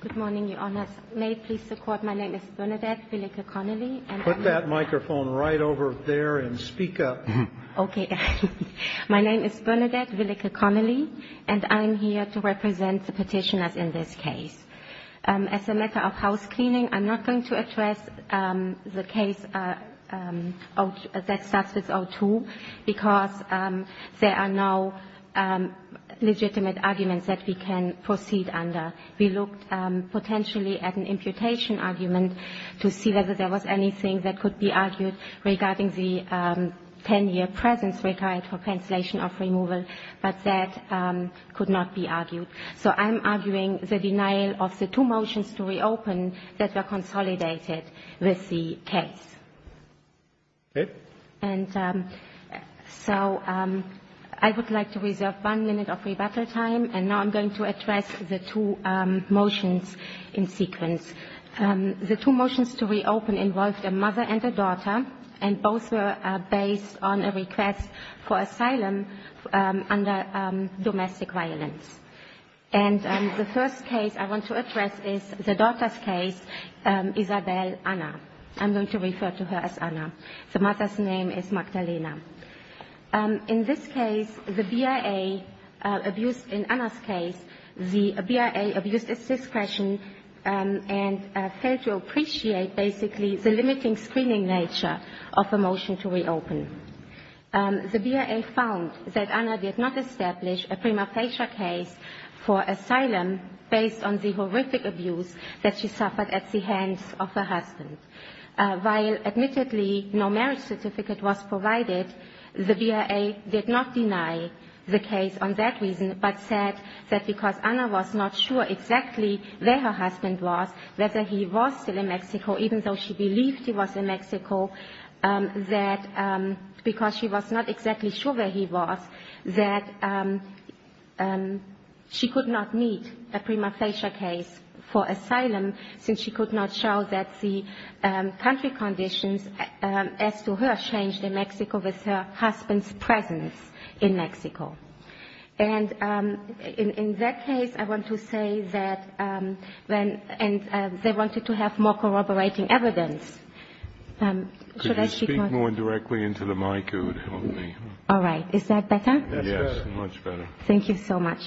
Good morning, Your Honors. May it please the Court, my name is Bernadette Villica Connelly. Put that microphone right over there and speak up. Okay. My name is Bernadette Villica Connelly and I'm here to represent the petitioners in this case. As a matter of housecleaning, I'm not going to address the case that starts with O2 because there are no legitimate arguments that we can proceed under. We looked potentially at an imputation argument to see whether there was anything that could be argued regarding the 10-year presence required for cancellation of removal, but that could not be argued. So I'm arguing the denial of the two motions to reopen that were consolidated with the case. Okay. And so I would like to reserve one minute of rebuttal time, and now I'm going to address the two motions in sequence. The two motions to reopen involved a mother and a daughter, and both were based on a request for asylum under domestic violence. And the first case I want to address is the daughter's case, Isabelle Anna. I'm going to refer to her as Anna. The mother's name is Magdalena. In this case, the BIA abused in Anna's case, the BIA abused its discretion and failed to appreciate basically the limiting screening nature of a motion to reopen. The BIA found that Anna did not establish a prima facie case for asylum based on the horrific abuse that she suffered at the hands of her husband. While admittedly no marriage certificate was provided, the BIA did not deny the case on that reason, but said that because Anna was not sure exactly where her husband was, whether he was still in Mexico, even though she believed he was in Mexico, that because she was not exactly sure where he was, that she could not meet a prima facie case for asylum since she could not show that the country conditions as to her changed in Mexico with her husband's presence in Mexico. And in that case, I want to say that when they wanted to have more corroborating evidence, should I speak more? Could you speak more directly into the mic? All right. Is that better? Yes, much better. Thank you so much.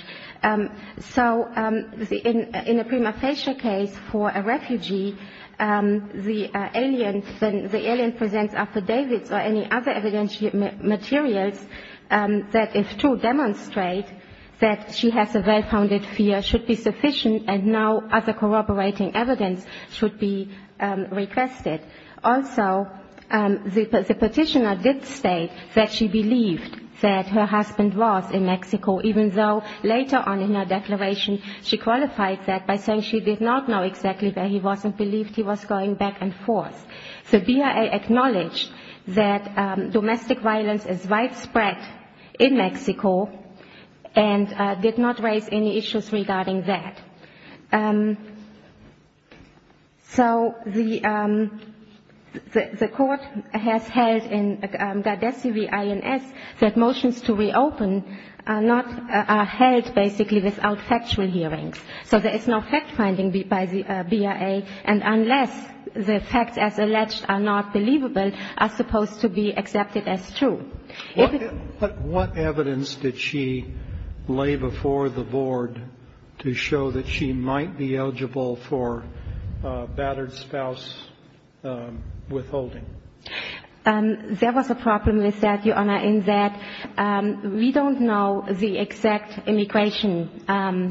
So in a prima facie case for a refugee, the alien presents affidavits or any other evidence materials that if true demonstrate that she has a well-founded fear should be sufficient and no other corroborating evidence should be requested. Also, the petitioner did state that she believed that her husband was in Mexico, even though later on in her declaration she qualified that by saying she did not know exactly where he was and believed he was going back and forth. So BIA acknowledged that domestic violence is widespread in Mexico and did not raise any issues regarding that. So the court has held in Gadesi v. INS that motions to reopen are not held basically without factual hearings. So there is no fact-finding by the BIA, and unless the facts as alleged are not believable, are supposed to be accepted as true. What evidence did she lay before the board to show that she might be eligible for a battered spouse withholding? There was a problem with that, Your Honor, in that we don't know the exact immigration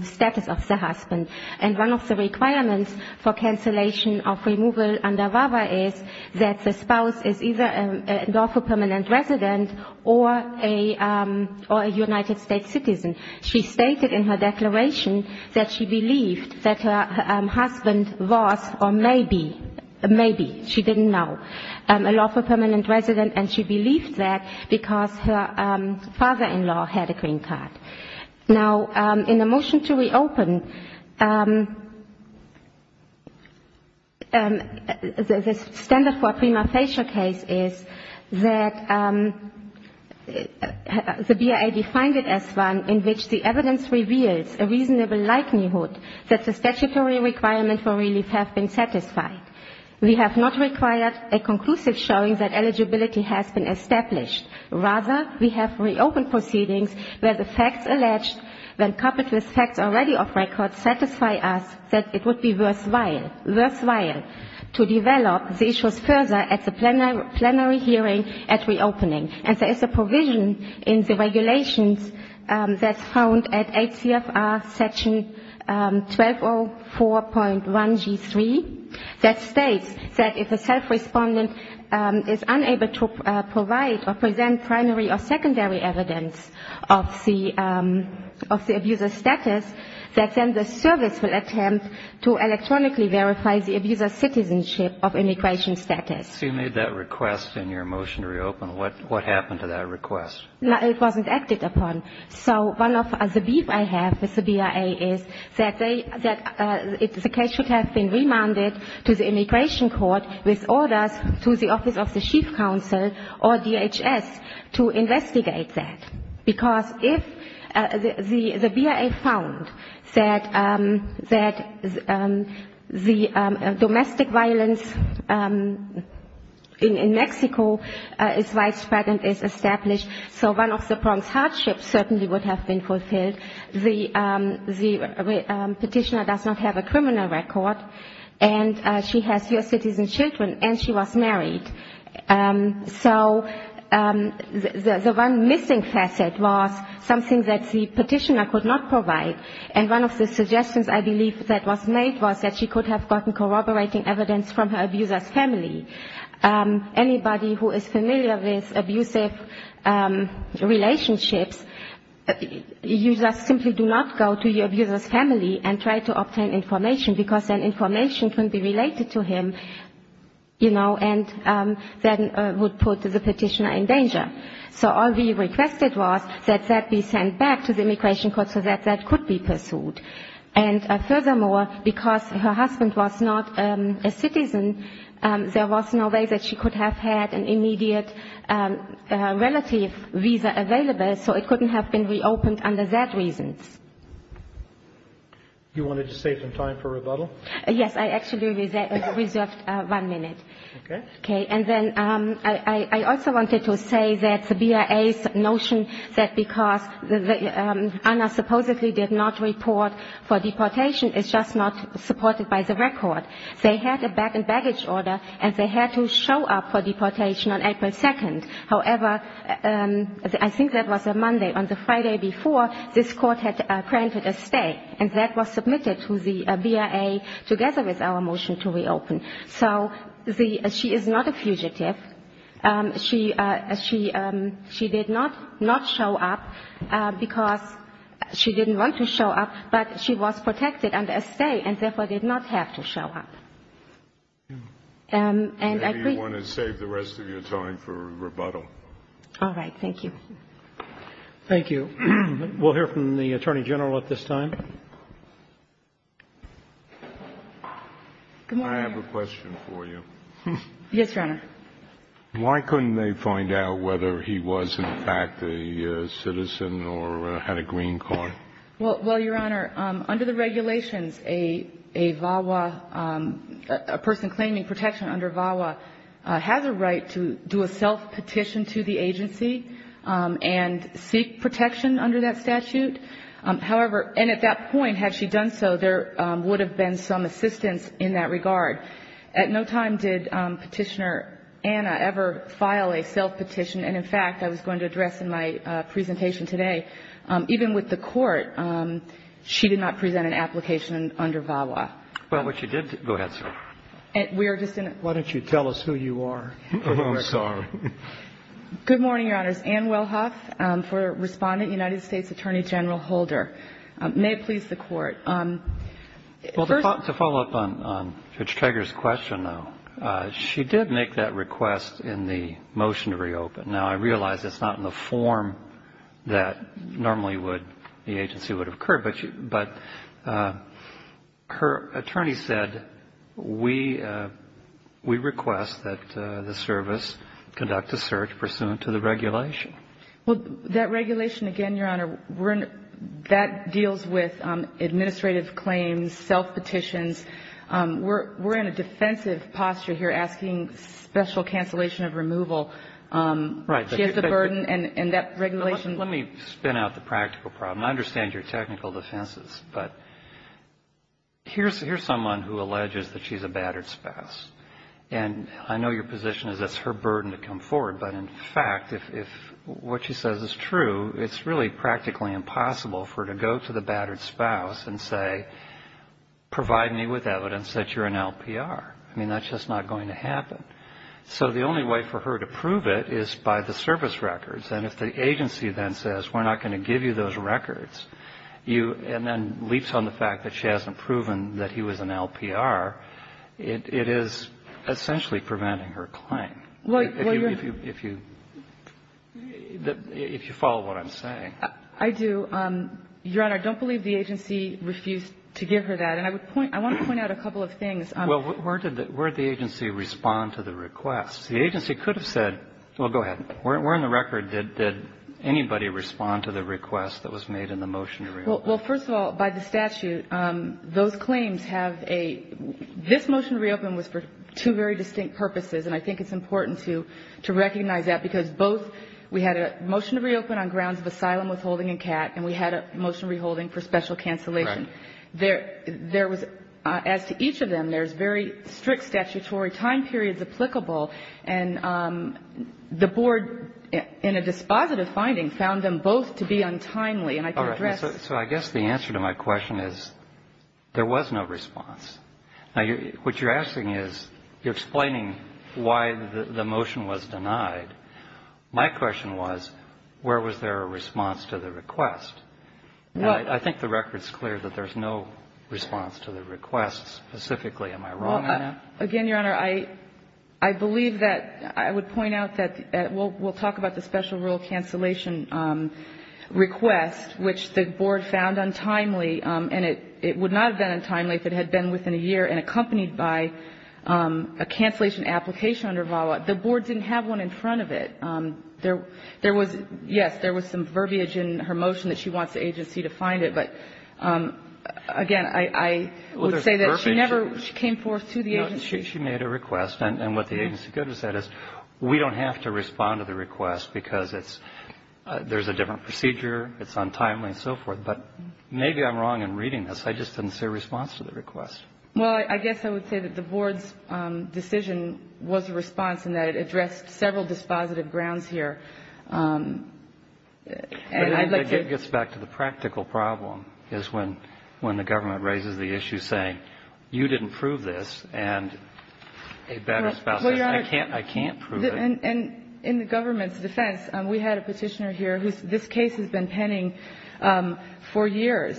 status of the husband. And one of the requirements for cancellation of removal under VAWA is that the spouse is either a lawful permanent resident or a United States citizen. She stated in her declaration that she believed that her husband was, or maybe, maybe, she didn't know, a lawful permanent resident, and she believed that because her father-in-law had a green card. Now, in the motion to reopen, the standard for a prima facie case is that the BIA defined it as one in which the evidence reveals a reasonable likelihood that the statutory requirements for relief have been satisfied. We have not required a conclusive showing that eligibility has been established. Rather, we have reopened proceedings where the facts alleged, when coupled with facts already off record, satisfy us that it would be worthwhile to develop the issues further at the plenary hearing at reopening. And there is a provision in the regulations that's found at ACFR Section 1204.1g3 that states that if a self-respondent is unable to provide or present primary or secondary evidence of the abuser's status, that then the service will attempt to electronically verify the abuser's citizenship of immigration status. So you made that request in your motion to reopen. What happened to that request? It wasn't acted upon. So one of the beef I have with the BIA is that the case should have been remanded to the Immigration Court with orders to the Office of the Chief Counsel or DHS to investigate that. Because if the BIA found that the domestic violence in Mexico is widespread and is established, so one of the Bronx hardships certainly would have been fulfilled. The petitioner does not have a criminal record, and she has U.S. citizen children, and she was married. So the one missing facet was something that the petitioner could not provide, and one of the suggestions I believe that was made was that she could have gotten corroborating evidence from her abuser's family. Anybody who is familiar with abusive relationships, you just simply do not go to your abuser's family and try to obtain information because then information can be related to him, you know, and that would put the petitioner in danger. So all we requested was that that be sent back to the Immigration Court so that that could be pursued. And furthermore, because her husband was not a citizen, there was no way that she could have had an immediate relative visa available, so it couldn't have been reopened under that reason. You wanted to save some time for rebuttal? Yes. I actually reserved one minute. Okay. Okay. And then I also wanted to say that the BIA's notion that because Anna supposedly did not report for deportation is just not supported by the record. They had a baggage order, and they had to show up for deportation on April 2nd. However, I think that was a Monday. On the Friday before, this court had granted a stay, and that was submitted to the BIA together with our motion to reopen. So she is not a fugitive. She did not show up because she didn't want to show up, but she was protected under a stay and therefore did not have to show up. And I agree. Maybe you want to save the rest of your time for rebuttal. All right. Thank you. Thank you. We'll hear from the Attorney General at this time. Good morning. I have a question for you. Yes, Your Honor. Why couldn't they find out whether he was in fact a citizen or had a green card? Well, Your Honor, under the regulations, a VAWA, a person claiming protection under VAWA, has a right to do a self-petition to the agency and seek protection under that statute. However, and at that point, had she done so, there would have been some assistance in that regard. At no time did Petitioner Anna ever file a self-petition. And, in fact, I was going to address in my presentation today, even with the court she did not present an application under VAWA. Well, what she did do go ahead, sir. Why don't you tell us who you are? I'm sorry. Good morning, Your Honors. My name is Ann Wilhoff. For Respondent, United States Attorney General Holder. May it please the Court. Well, to follow up on Judge Trager's question, though, she did make that request in the motion to reopen. Now, I realize it's not in the form that normally would the agency would have occurred. But her attorney said, we request that the service conduct a search pursuant to the regulation. Well, that regulation, again, Your Honor, that deals with administrative claims, self-petitions. We're in a defensive posture here asking special cancellation of removal. Right. She has the burden and that regulation. Let me spin out the practical problem. And I understand your technical defenses. But here's someone who alleges that she's a battered spouse. And I know your position is that's her burden to come forward. But, in fact, if what she says is true, it's really practically impossible for her to go to the battered spouse and say, provide me with evidence that you're an LPR. I mean, that's just not going to happen. So the only way for her to prove it is by the service records. And if the agency then says, we're not going to give you those records, and then leaps on the fact that she hasn't proven that he was an LPR, it is essentially preventing her claim. If you follow what I'm saying. I do. Your Honor, I don't believe the agency refused to give her that. And I want to point out a couple of things. Well, where did the agency respond to the request? The agency could have said, well, go ahead. Where in the record did anybody respond to the request that was made in the motion to reopen? Well, first of all, by the statute, those claims have a — this motion to reopen was for two very distinct purposes. And I think it's important to recognize that, because both — we had a motion to reopen on grounds of asylum withholding and CAT, and we had a motion reholding for special cancellation. Right. There was — as to each of them, there's very strict statutory time periods applicable. And the board, in a dispositive finding, found them both to be untimely. And I can address — All right. So I guess the answer to my question is, there was no response. Now, what you're asking is, you're explaining why the motion was denied. My question was, where was there a response to the request? Well — I think the record's clear that there's no response to the request. Specifically, am I wrong on that? Again, Your Honor, I believe that — I would point out that — we'll talk about the special rule cancellation request, which the board found untimely. And it would not have been untimely if it had been within a year and accompanied by a cancellation application under VAWA. The board didn't have one in front of it. There was — yes, there was some verbiage in her motion that she wants the agency to find it. Well, there's verbiage. No, she made a request. And what the agency could have said is, we don't have to respond to the request because it's — there's a different procedure, it's untimely and so forth. But maybe I'm wrong in reading this. I just didn't see a response to the request. Well, I guess I would say that the board's decision was a response in that it addressed several dispositive grounds here. And I'd like to — Well, Your Honor — I can't prove it. And in the government's defense, we had a petitioner here whose — this case has been penning for years.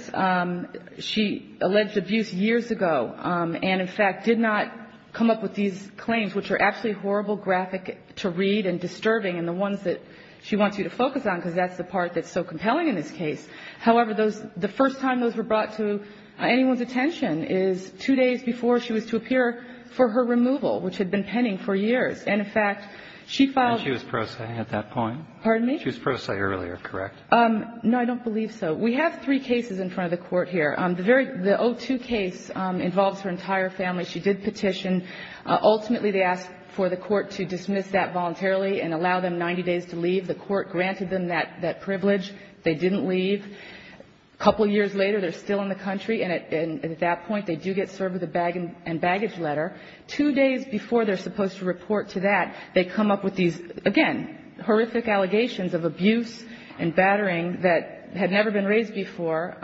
She alleged abuse years ago and, in fact, did not come up with these claims, which are absolutely horrible graphic to read and disturbing, and the ones that she wants you to focus on because that's the part that's so compelling in this case. However, those — the first time those were brought to anyone's attention is two days before she was to appear for her removal, which had been penning for years. And, in fact, she filed — And she was pro se at that point? Pardon me? She was pro se earlier, correct? No, I don't believe so. We have three cases in front of the Court here. The very — the O2 case involves her entire family. She did petition. Ultimately, they asked for the Court to dismiss that voluntarily and allow them 90 days to leave. The Court granted them that privilege. They didn't leave. A couple years later, they're still in the country. And at that point, they do get served with a bag and baggage letter. Two days before they're supposed to report to that, they come up with these, again, horrific allegations of abuse and battering that had never been raised before.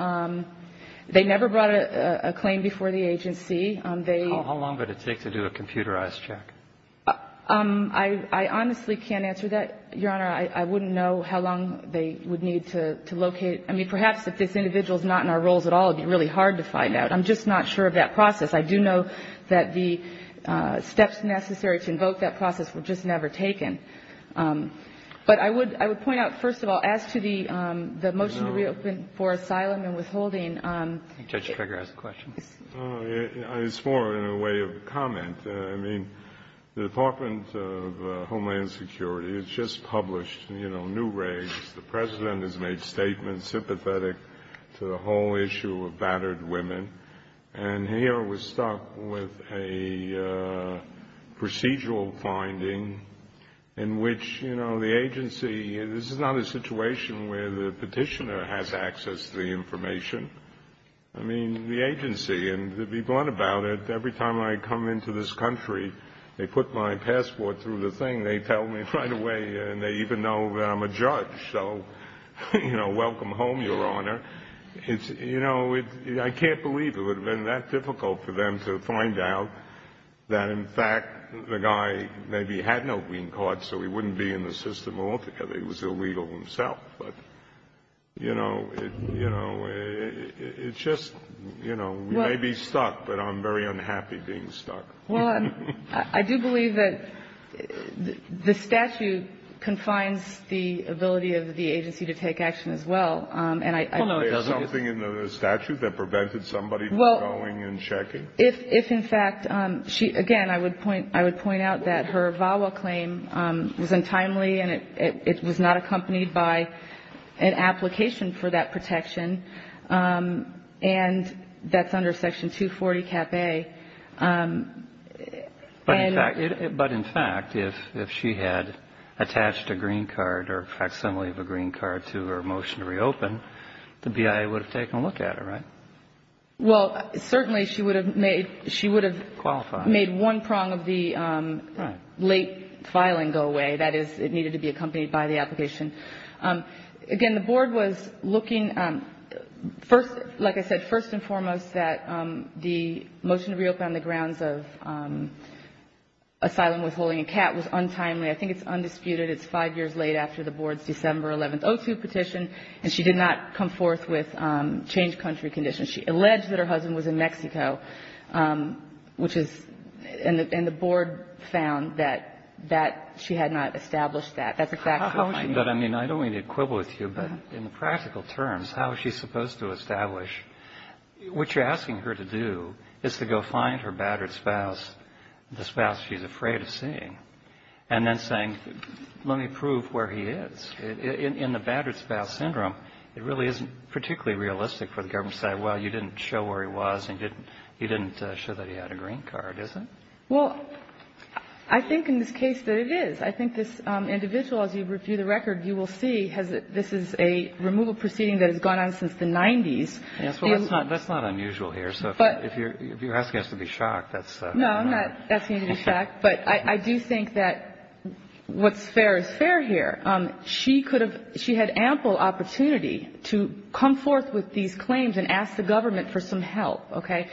They never brought a claim before the agency. They — How long would it take to do a computerized check? I honestly can't answer that, Your Honor. I wouldn't know how long they would need to locate. I mean, perhaps if this individual is not in our roles at all, it would be really hard to find out. I'm just not sure of that process. I do know that the steps necessary to invoke that process were just never taken. But I would — I would point out, first of all, as to the motion to reopen for asylum and withholding — Judge Kruger has a question. It's more in a way of a comment. I mean, the Department of Homeland Security has just published, you know, new regs. The president has made statements sympathetic to the whole issue of battered women. And here we're stuck with a procedural finding in which, you know, the agency — this is not a situation where the petitioner has access to the information. I mean, the agency, and to be blunt about it, every time I come into this country, they put my passport through the thing. They tell me right away, and they even know that I'm a judge. So, you know, welcome home, Your Honor. It's — you know, I can't believe it would have been that difficult for them to find out that, in fact, the guy maybe had no green card, so he wouldn't be in the system altogether. He was illegal himself. But, you know, it's just — you know, we may be stuck, but I'm very unhappy being stuck. Well, I do believe that the statute confines the ability of the agency to take action as well. And I — Well, no, it doesn't. Is there something in the statute that prevented somebody from going and checking? Well, if, in fact, she — again, I would point out that her VAWA claim was untimely, and it was not accompanied by an application for that protection. And that's under Section 240, Cap A. But, in fact, if she had attached a green card or a facsimile of a green card to her motion to reopen, the BIA would have taken a look at her, right? Well, certainly she would have made — Qualified. She would have made one prong of the late filing go away. That is, it needed to be accompanied by the application. Again, the Board was looking — first — like I said, first and foremost, that the motion to reopen on the grounds of asylum withholding and CAT was untimely. I think it's undisputed. It's five years late after the Board's December 11th O2 petition, and she did not come forth with changed country conditions. She alleged that her husband was in Mexico, which is — and the Board found that she had not established that. But, I mean, I don't mean to quibble with you, but in the practical terms, how is she supposed to establish? What you're asking her to do is to go find her battered spouse, the spouse she's afraid of seeing, and then saying, let me prove where he is. In the battered spouse syndrome, it really isn't particularly realistic for the government to say, well, you didn't show where he was and you didn't show that he had a green card, is it? Well, I think in this case that it is. I think this individual, as you review the record, you will see this is a removal proceeding that has gone on since the 90s. Yes, well, that's not unusual here. So if you're asking us to be shocked, that's — No, I'm not asking you to be shocked. But I do think that what's fair is fair here. She could have — she had ample opportunity to come forth with these claims and ask the government for some help, okay?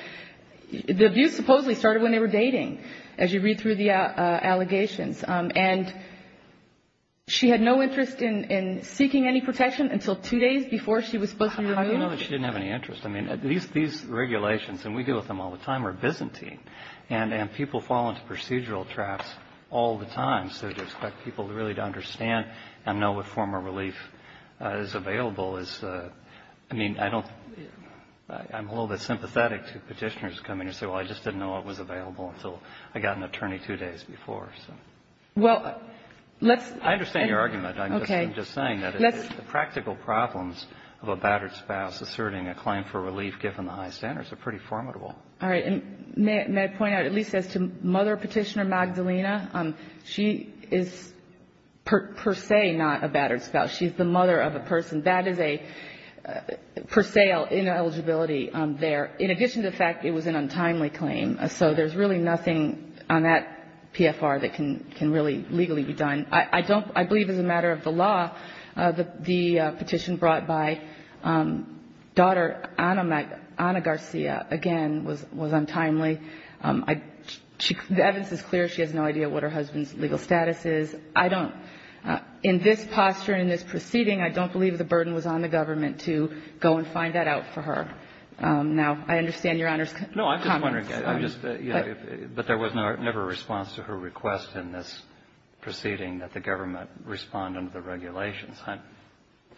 The abuse supposedly started when they were dating, as you read through the allegations. And she had no interest in seeking any protection until two days before she was supposed to be removed? I don't know that she didn't have any interest. I mean, these regulations, and we deal with them all the time, are Byzantine. And people fall into procedural traps all the time. So to expect people really to understand and know what form of relief is available is — I mean, I don't — I'm a little bit sympathetic to Petitioners coming and saying, well, I just didn't know it was available until I got an attorney two days before, so. Well, let's — I understand your argument. Okay. I'm just saying that the practical problems of a battered spouse asserting a claim for relief given the high standards are pretty formidable. All right. And may I point out, at least as to Mother Petitioner Magdalena, she is per se not a battered spouse. She's the mother of a person. That is a per se ineligibility there. In addition to the fact it was an untimely claim. So there's really nothing on that PFR that can really legally be done. I don't — I believe as a matter of the law, the petition brought by daughter Ana Garcia, again, was untimely. The evidence is clear. She has no idea what her husband's legal status is. In this posture, in this proceeding, I don't believe the burden was on the government to go and find that out for her. Now, I understand Your Honor's comments. No, I'm just wondering. I'm just — you know, but there was never a response to her request in this proceeding that the government respond under the regulations.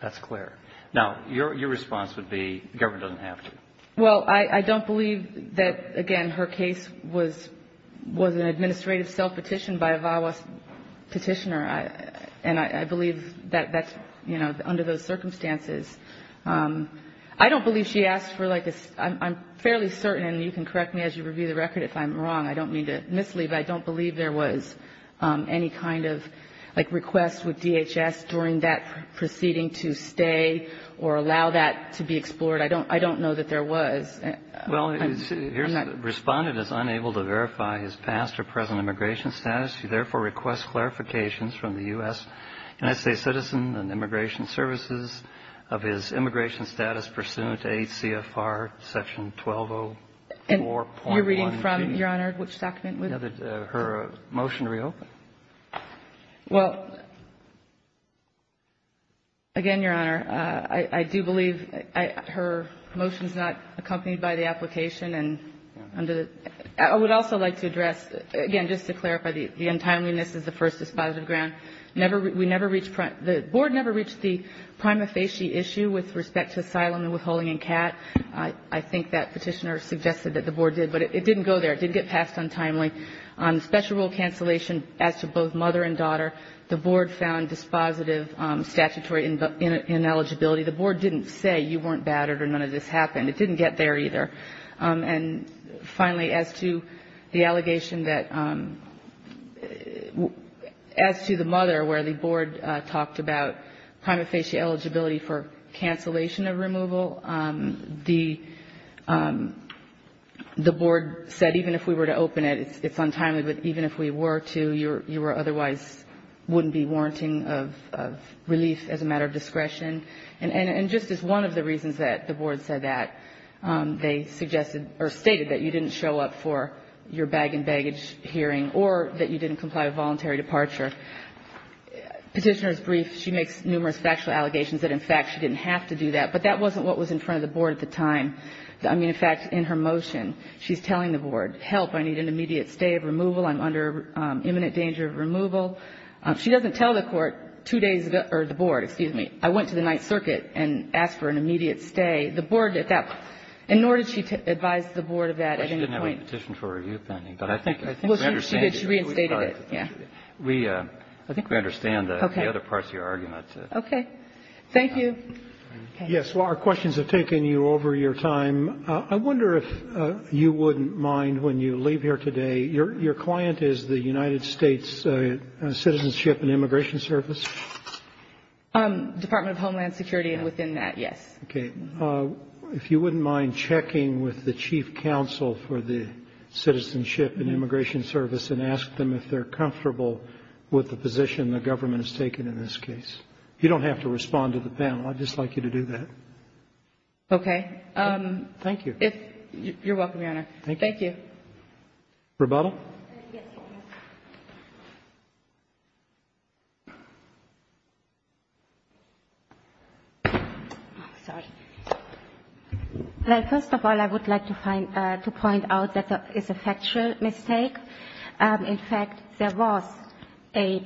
That's clear. Now, your response would be the government doesn't have to. Well, I don't believe that, again, her case was an administrative self-petition by a VAWA petitioner, and I believe that that's, you know, under those circumstances. I don't believe she asked for like a — I'm fairly certain, and you can correct me as you review the record if I'm wrong. I don't mean to mislead, but I don't believe there was any kind of like request with DHS during that proceeding to stay or allow that to be explored. I don't know that there was. Well, here's — the Respondent is unable to verify his past or present immigration status. She therefore requests clarifications from the U.S. NSA citizen and immigration services of his immigration status pursuant to 8 CFR Section 1204.1.2. And you're reading from, Your Honor, which document? Her motion to reopen. Well, again, Your Honor, I do believe her motion is not accompanied by the application, and under the — I would also like to address, again, just to clarify, the untimeliness is the first dispositive ground. Never — we never reached — the Board never reached the prima facie issue with respect to asylum and withholding in CAT. I think that petitioner suggested that the Board did, but it didn't go there. It didn't get passed untimely. On special rule cancellation, as to both mother and daughter, the Board found dispositive statutory ineligibility. The Board didn't say you weren't battered or none of this happened. It didn't get there either. And finally, as to the allegation that — as to the mother, where the Board talked about prima facie eligibility for cancellation of removal, the Board said even if we were to open it, it's untimely, but even if we were to, you were otherwise — wouldn't be warranting of relief as a matter of discretion. And just as one of the reasons that the Board said that, they suggested — or stated that you didn't show up for your bag and baggage hearing or that you didn't comply with voluntary departure. Petitioner's brief, she makes numerous factual allegations that, in fact, she didn't have to do that. But that wasn't what was in front of the Board at the time. I mean, in fact, in her motion, she's telling the Board, help, I need an immediate stay of removal. I'm under imminent danger of removal. She doesn't tell the Court two days ago — or the Board, excuse me. I went to the Ninth Circuit and asked for an immediate stay. The Board did that. And nor did she advise the Board of that at any point. Well, she didn't have a petition for review pending, but I think — Well, she did. She reinstated it. We — I think we understand the other parts of your argument. Okay. Thank you. Yes. Well, our questions have taken you over your time. I wonder if you wouldn't mind, when you leave here today, your client is the United States Citizenship and Immigration Service? Department of Homeland Security and within that, yes. Okay. If you wouldn't mind checking with the chief counsel for the Citizenship and Immigration Service and ask them if they're comfortable with the position the government has taken in this case. You don't have to respond to the panel. I'd just like you to do that. Okay. Thank you. You're welcome, Your Honor. Thank you. Thank you. Rebuttal? Yes, Your Honor. Oh, sorry. Well, first of all, I would like to find — to point out that it's a factual mistake. In fact, there was a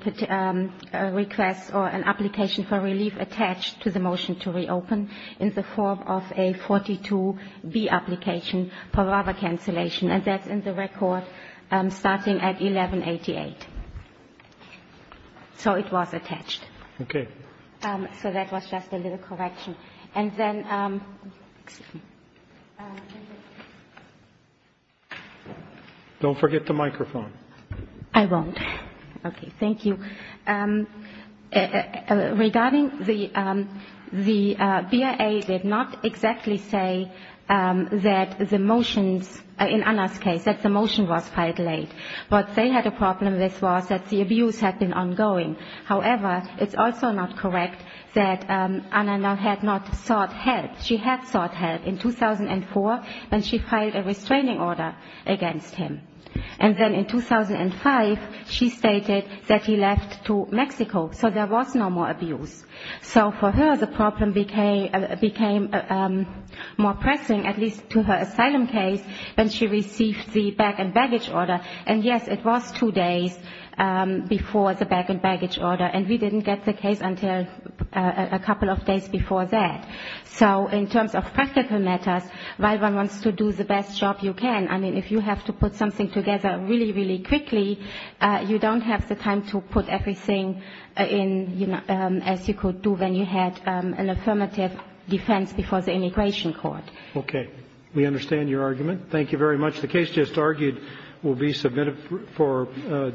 request or an application for relief attached to the motion to reopen in the form of a 42B application for rubber cancellation, and that's in the record starting at 1188. So it was attached. Okay. So that was just a little correction. And then — Thank you. Don't forget the microphone. I won't. Okay. Thank you. Regarding the BIA did not exactly say that the motions in Anna's case, that the motion was filed late. What they had a problem with was that the abuse had been ongoing. However, it's also not correct that Anna had not sought help. She had sought help in 2004 when she filed a restraining order against him. And then in 2005, she stated that he left to Mexico, so there was no more abuse. So for her, the problem became more pressing, at least to her asylum case, when she received the bag and baggage order. And, yes, it was two days before the bag and baggage order, and we didn't get the case until a couple of days before that. So in terms of practical matters, while one wants to do the best job you can, I mean, if you have to put something together really, really quickly, you don't have the time to put everything in, you know, as you could do when you had an affirmative defense before the immigration court. Okay. We understand your argument. Thank you very much. The case just argued will be submitted for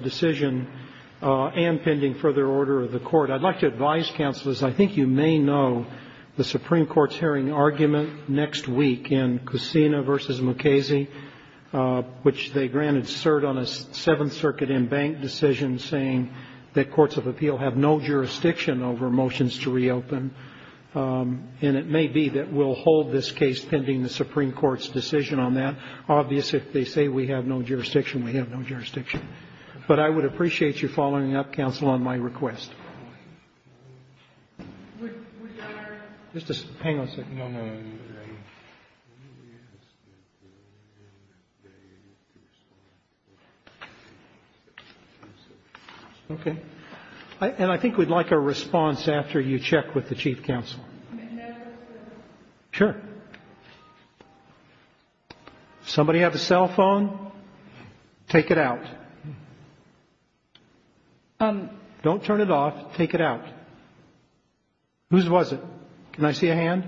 decision and pending further order of the court. I'd like to advise, counselors, I think you may know the Supreme Court's hearing argument next week in Cusina v. Mukasey, which they granted cert on a Seventh Circuit embanked decision saying that courts of appeal have no jurisdiction over motions to reopen. And it may be that we'll hold this case pending the Supreme Court's decision on that. Obviously, if they say we have no jurisdiction, we have no jurisdiction. But I would appreciate you following up, counsel, on my request. Just a second. Okay. And I think we'd like a response after you check with the chief counsel. Sure. Somebody have a cell phone? Take it out. Don't turn it off. Take it out. Whose was it? Can I see a hand?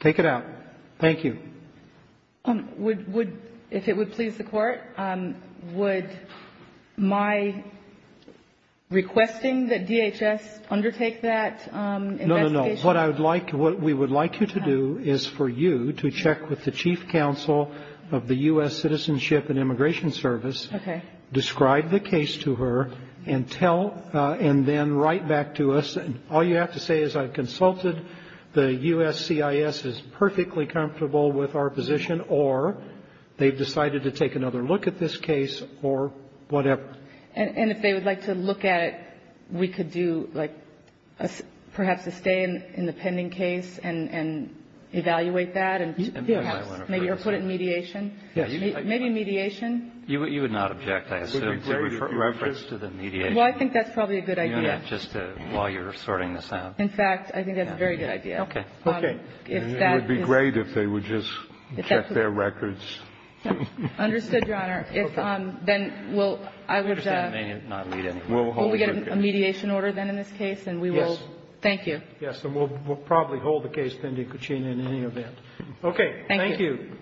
Take it out. Thank you. Would, if it would please the court, would my requesting that DHS undertake that investigation? What I would like, what we would like you to do is for you to check with the chief counsel of the U.S. Citizenship and Immigration Service. Okay. Describe the case to her and tell, and then write back to us. All you have to say is I've consulted, the U.S. CIS is perfectly comfortable with our position, or they've decided to take another look at this case, or whatever. And if they would like to look at it, we could do, like, perhaps a stay in the pending case and evaluate that, and perhaps maybe put it in mediation. Maybe mediation. You would not object, I assume, to reference to the mediation. Well, I think that's probably a good idea. Just while you're sorting this out. In fact, I think that's a very good idea. Okay. It would be great if they would just check their records. Understood, Your Honor. Okay. Then we'll, I would, we'll get a mediation order then in this case, and we will. Yes. Thank you. Yes. And we'll probably hold the case pending in any event. Okay. Thank you.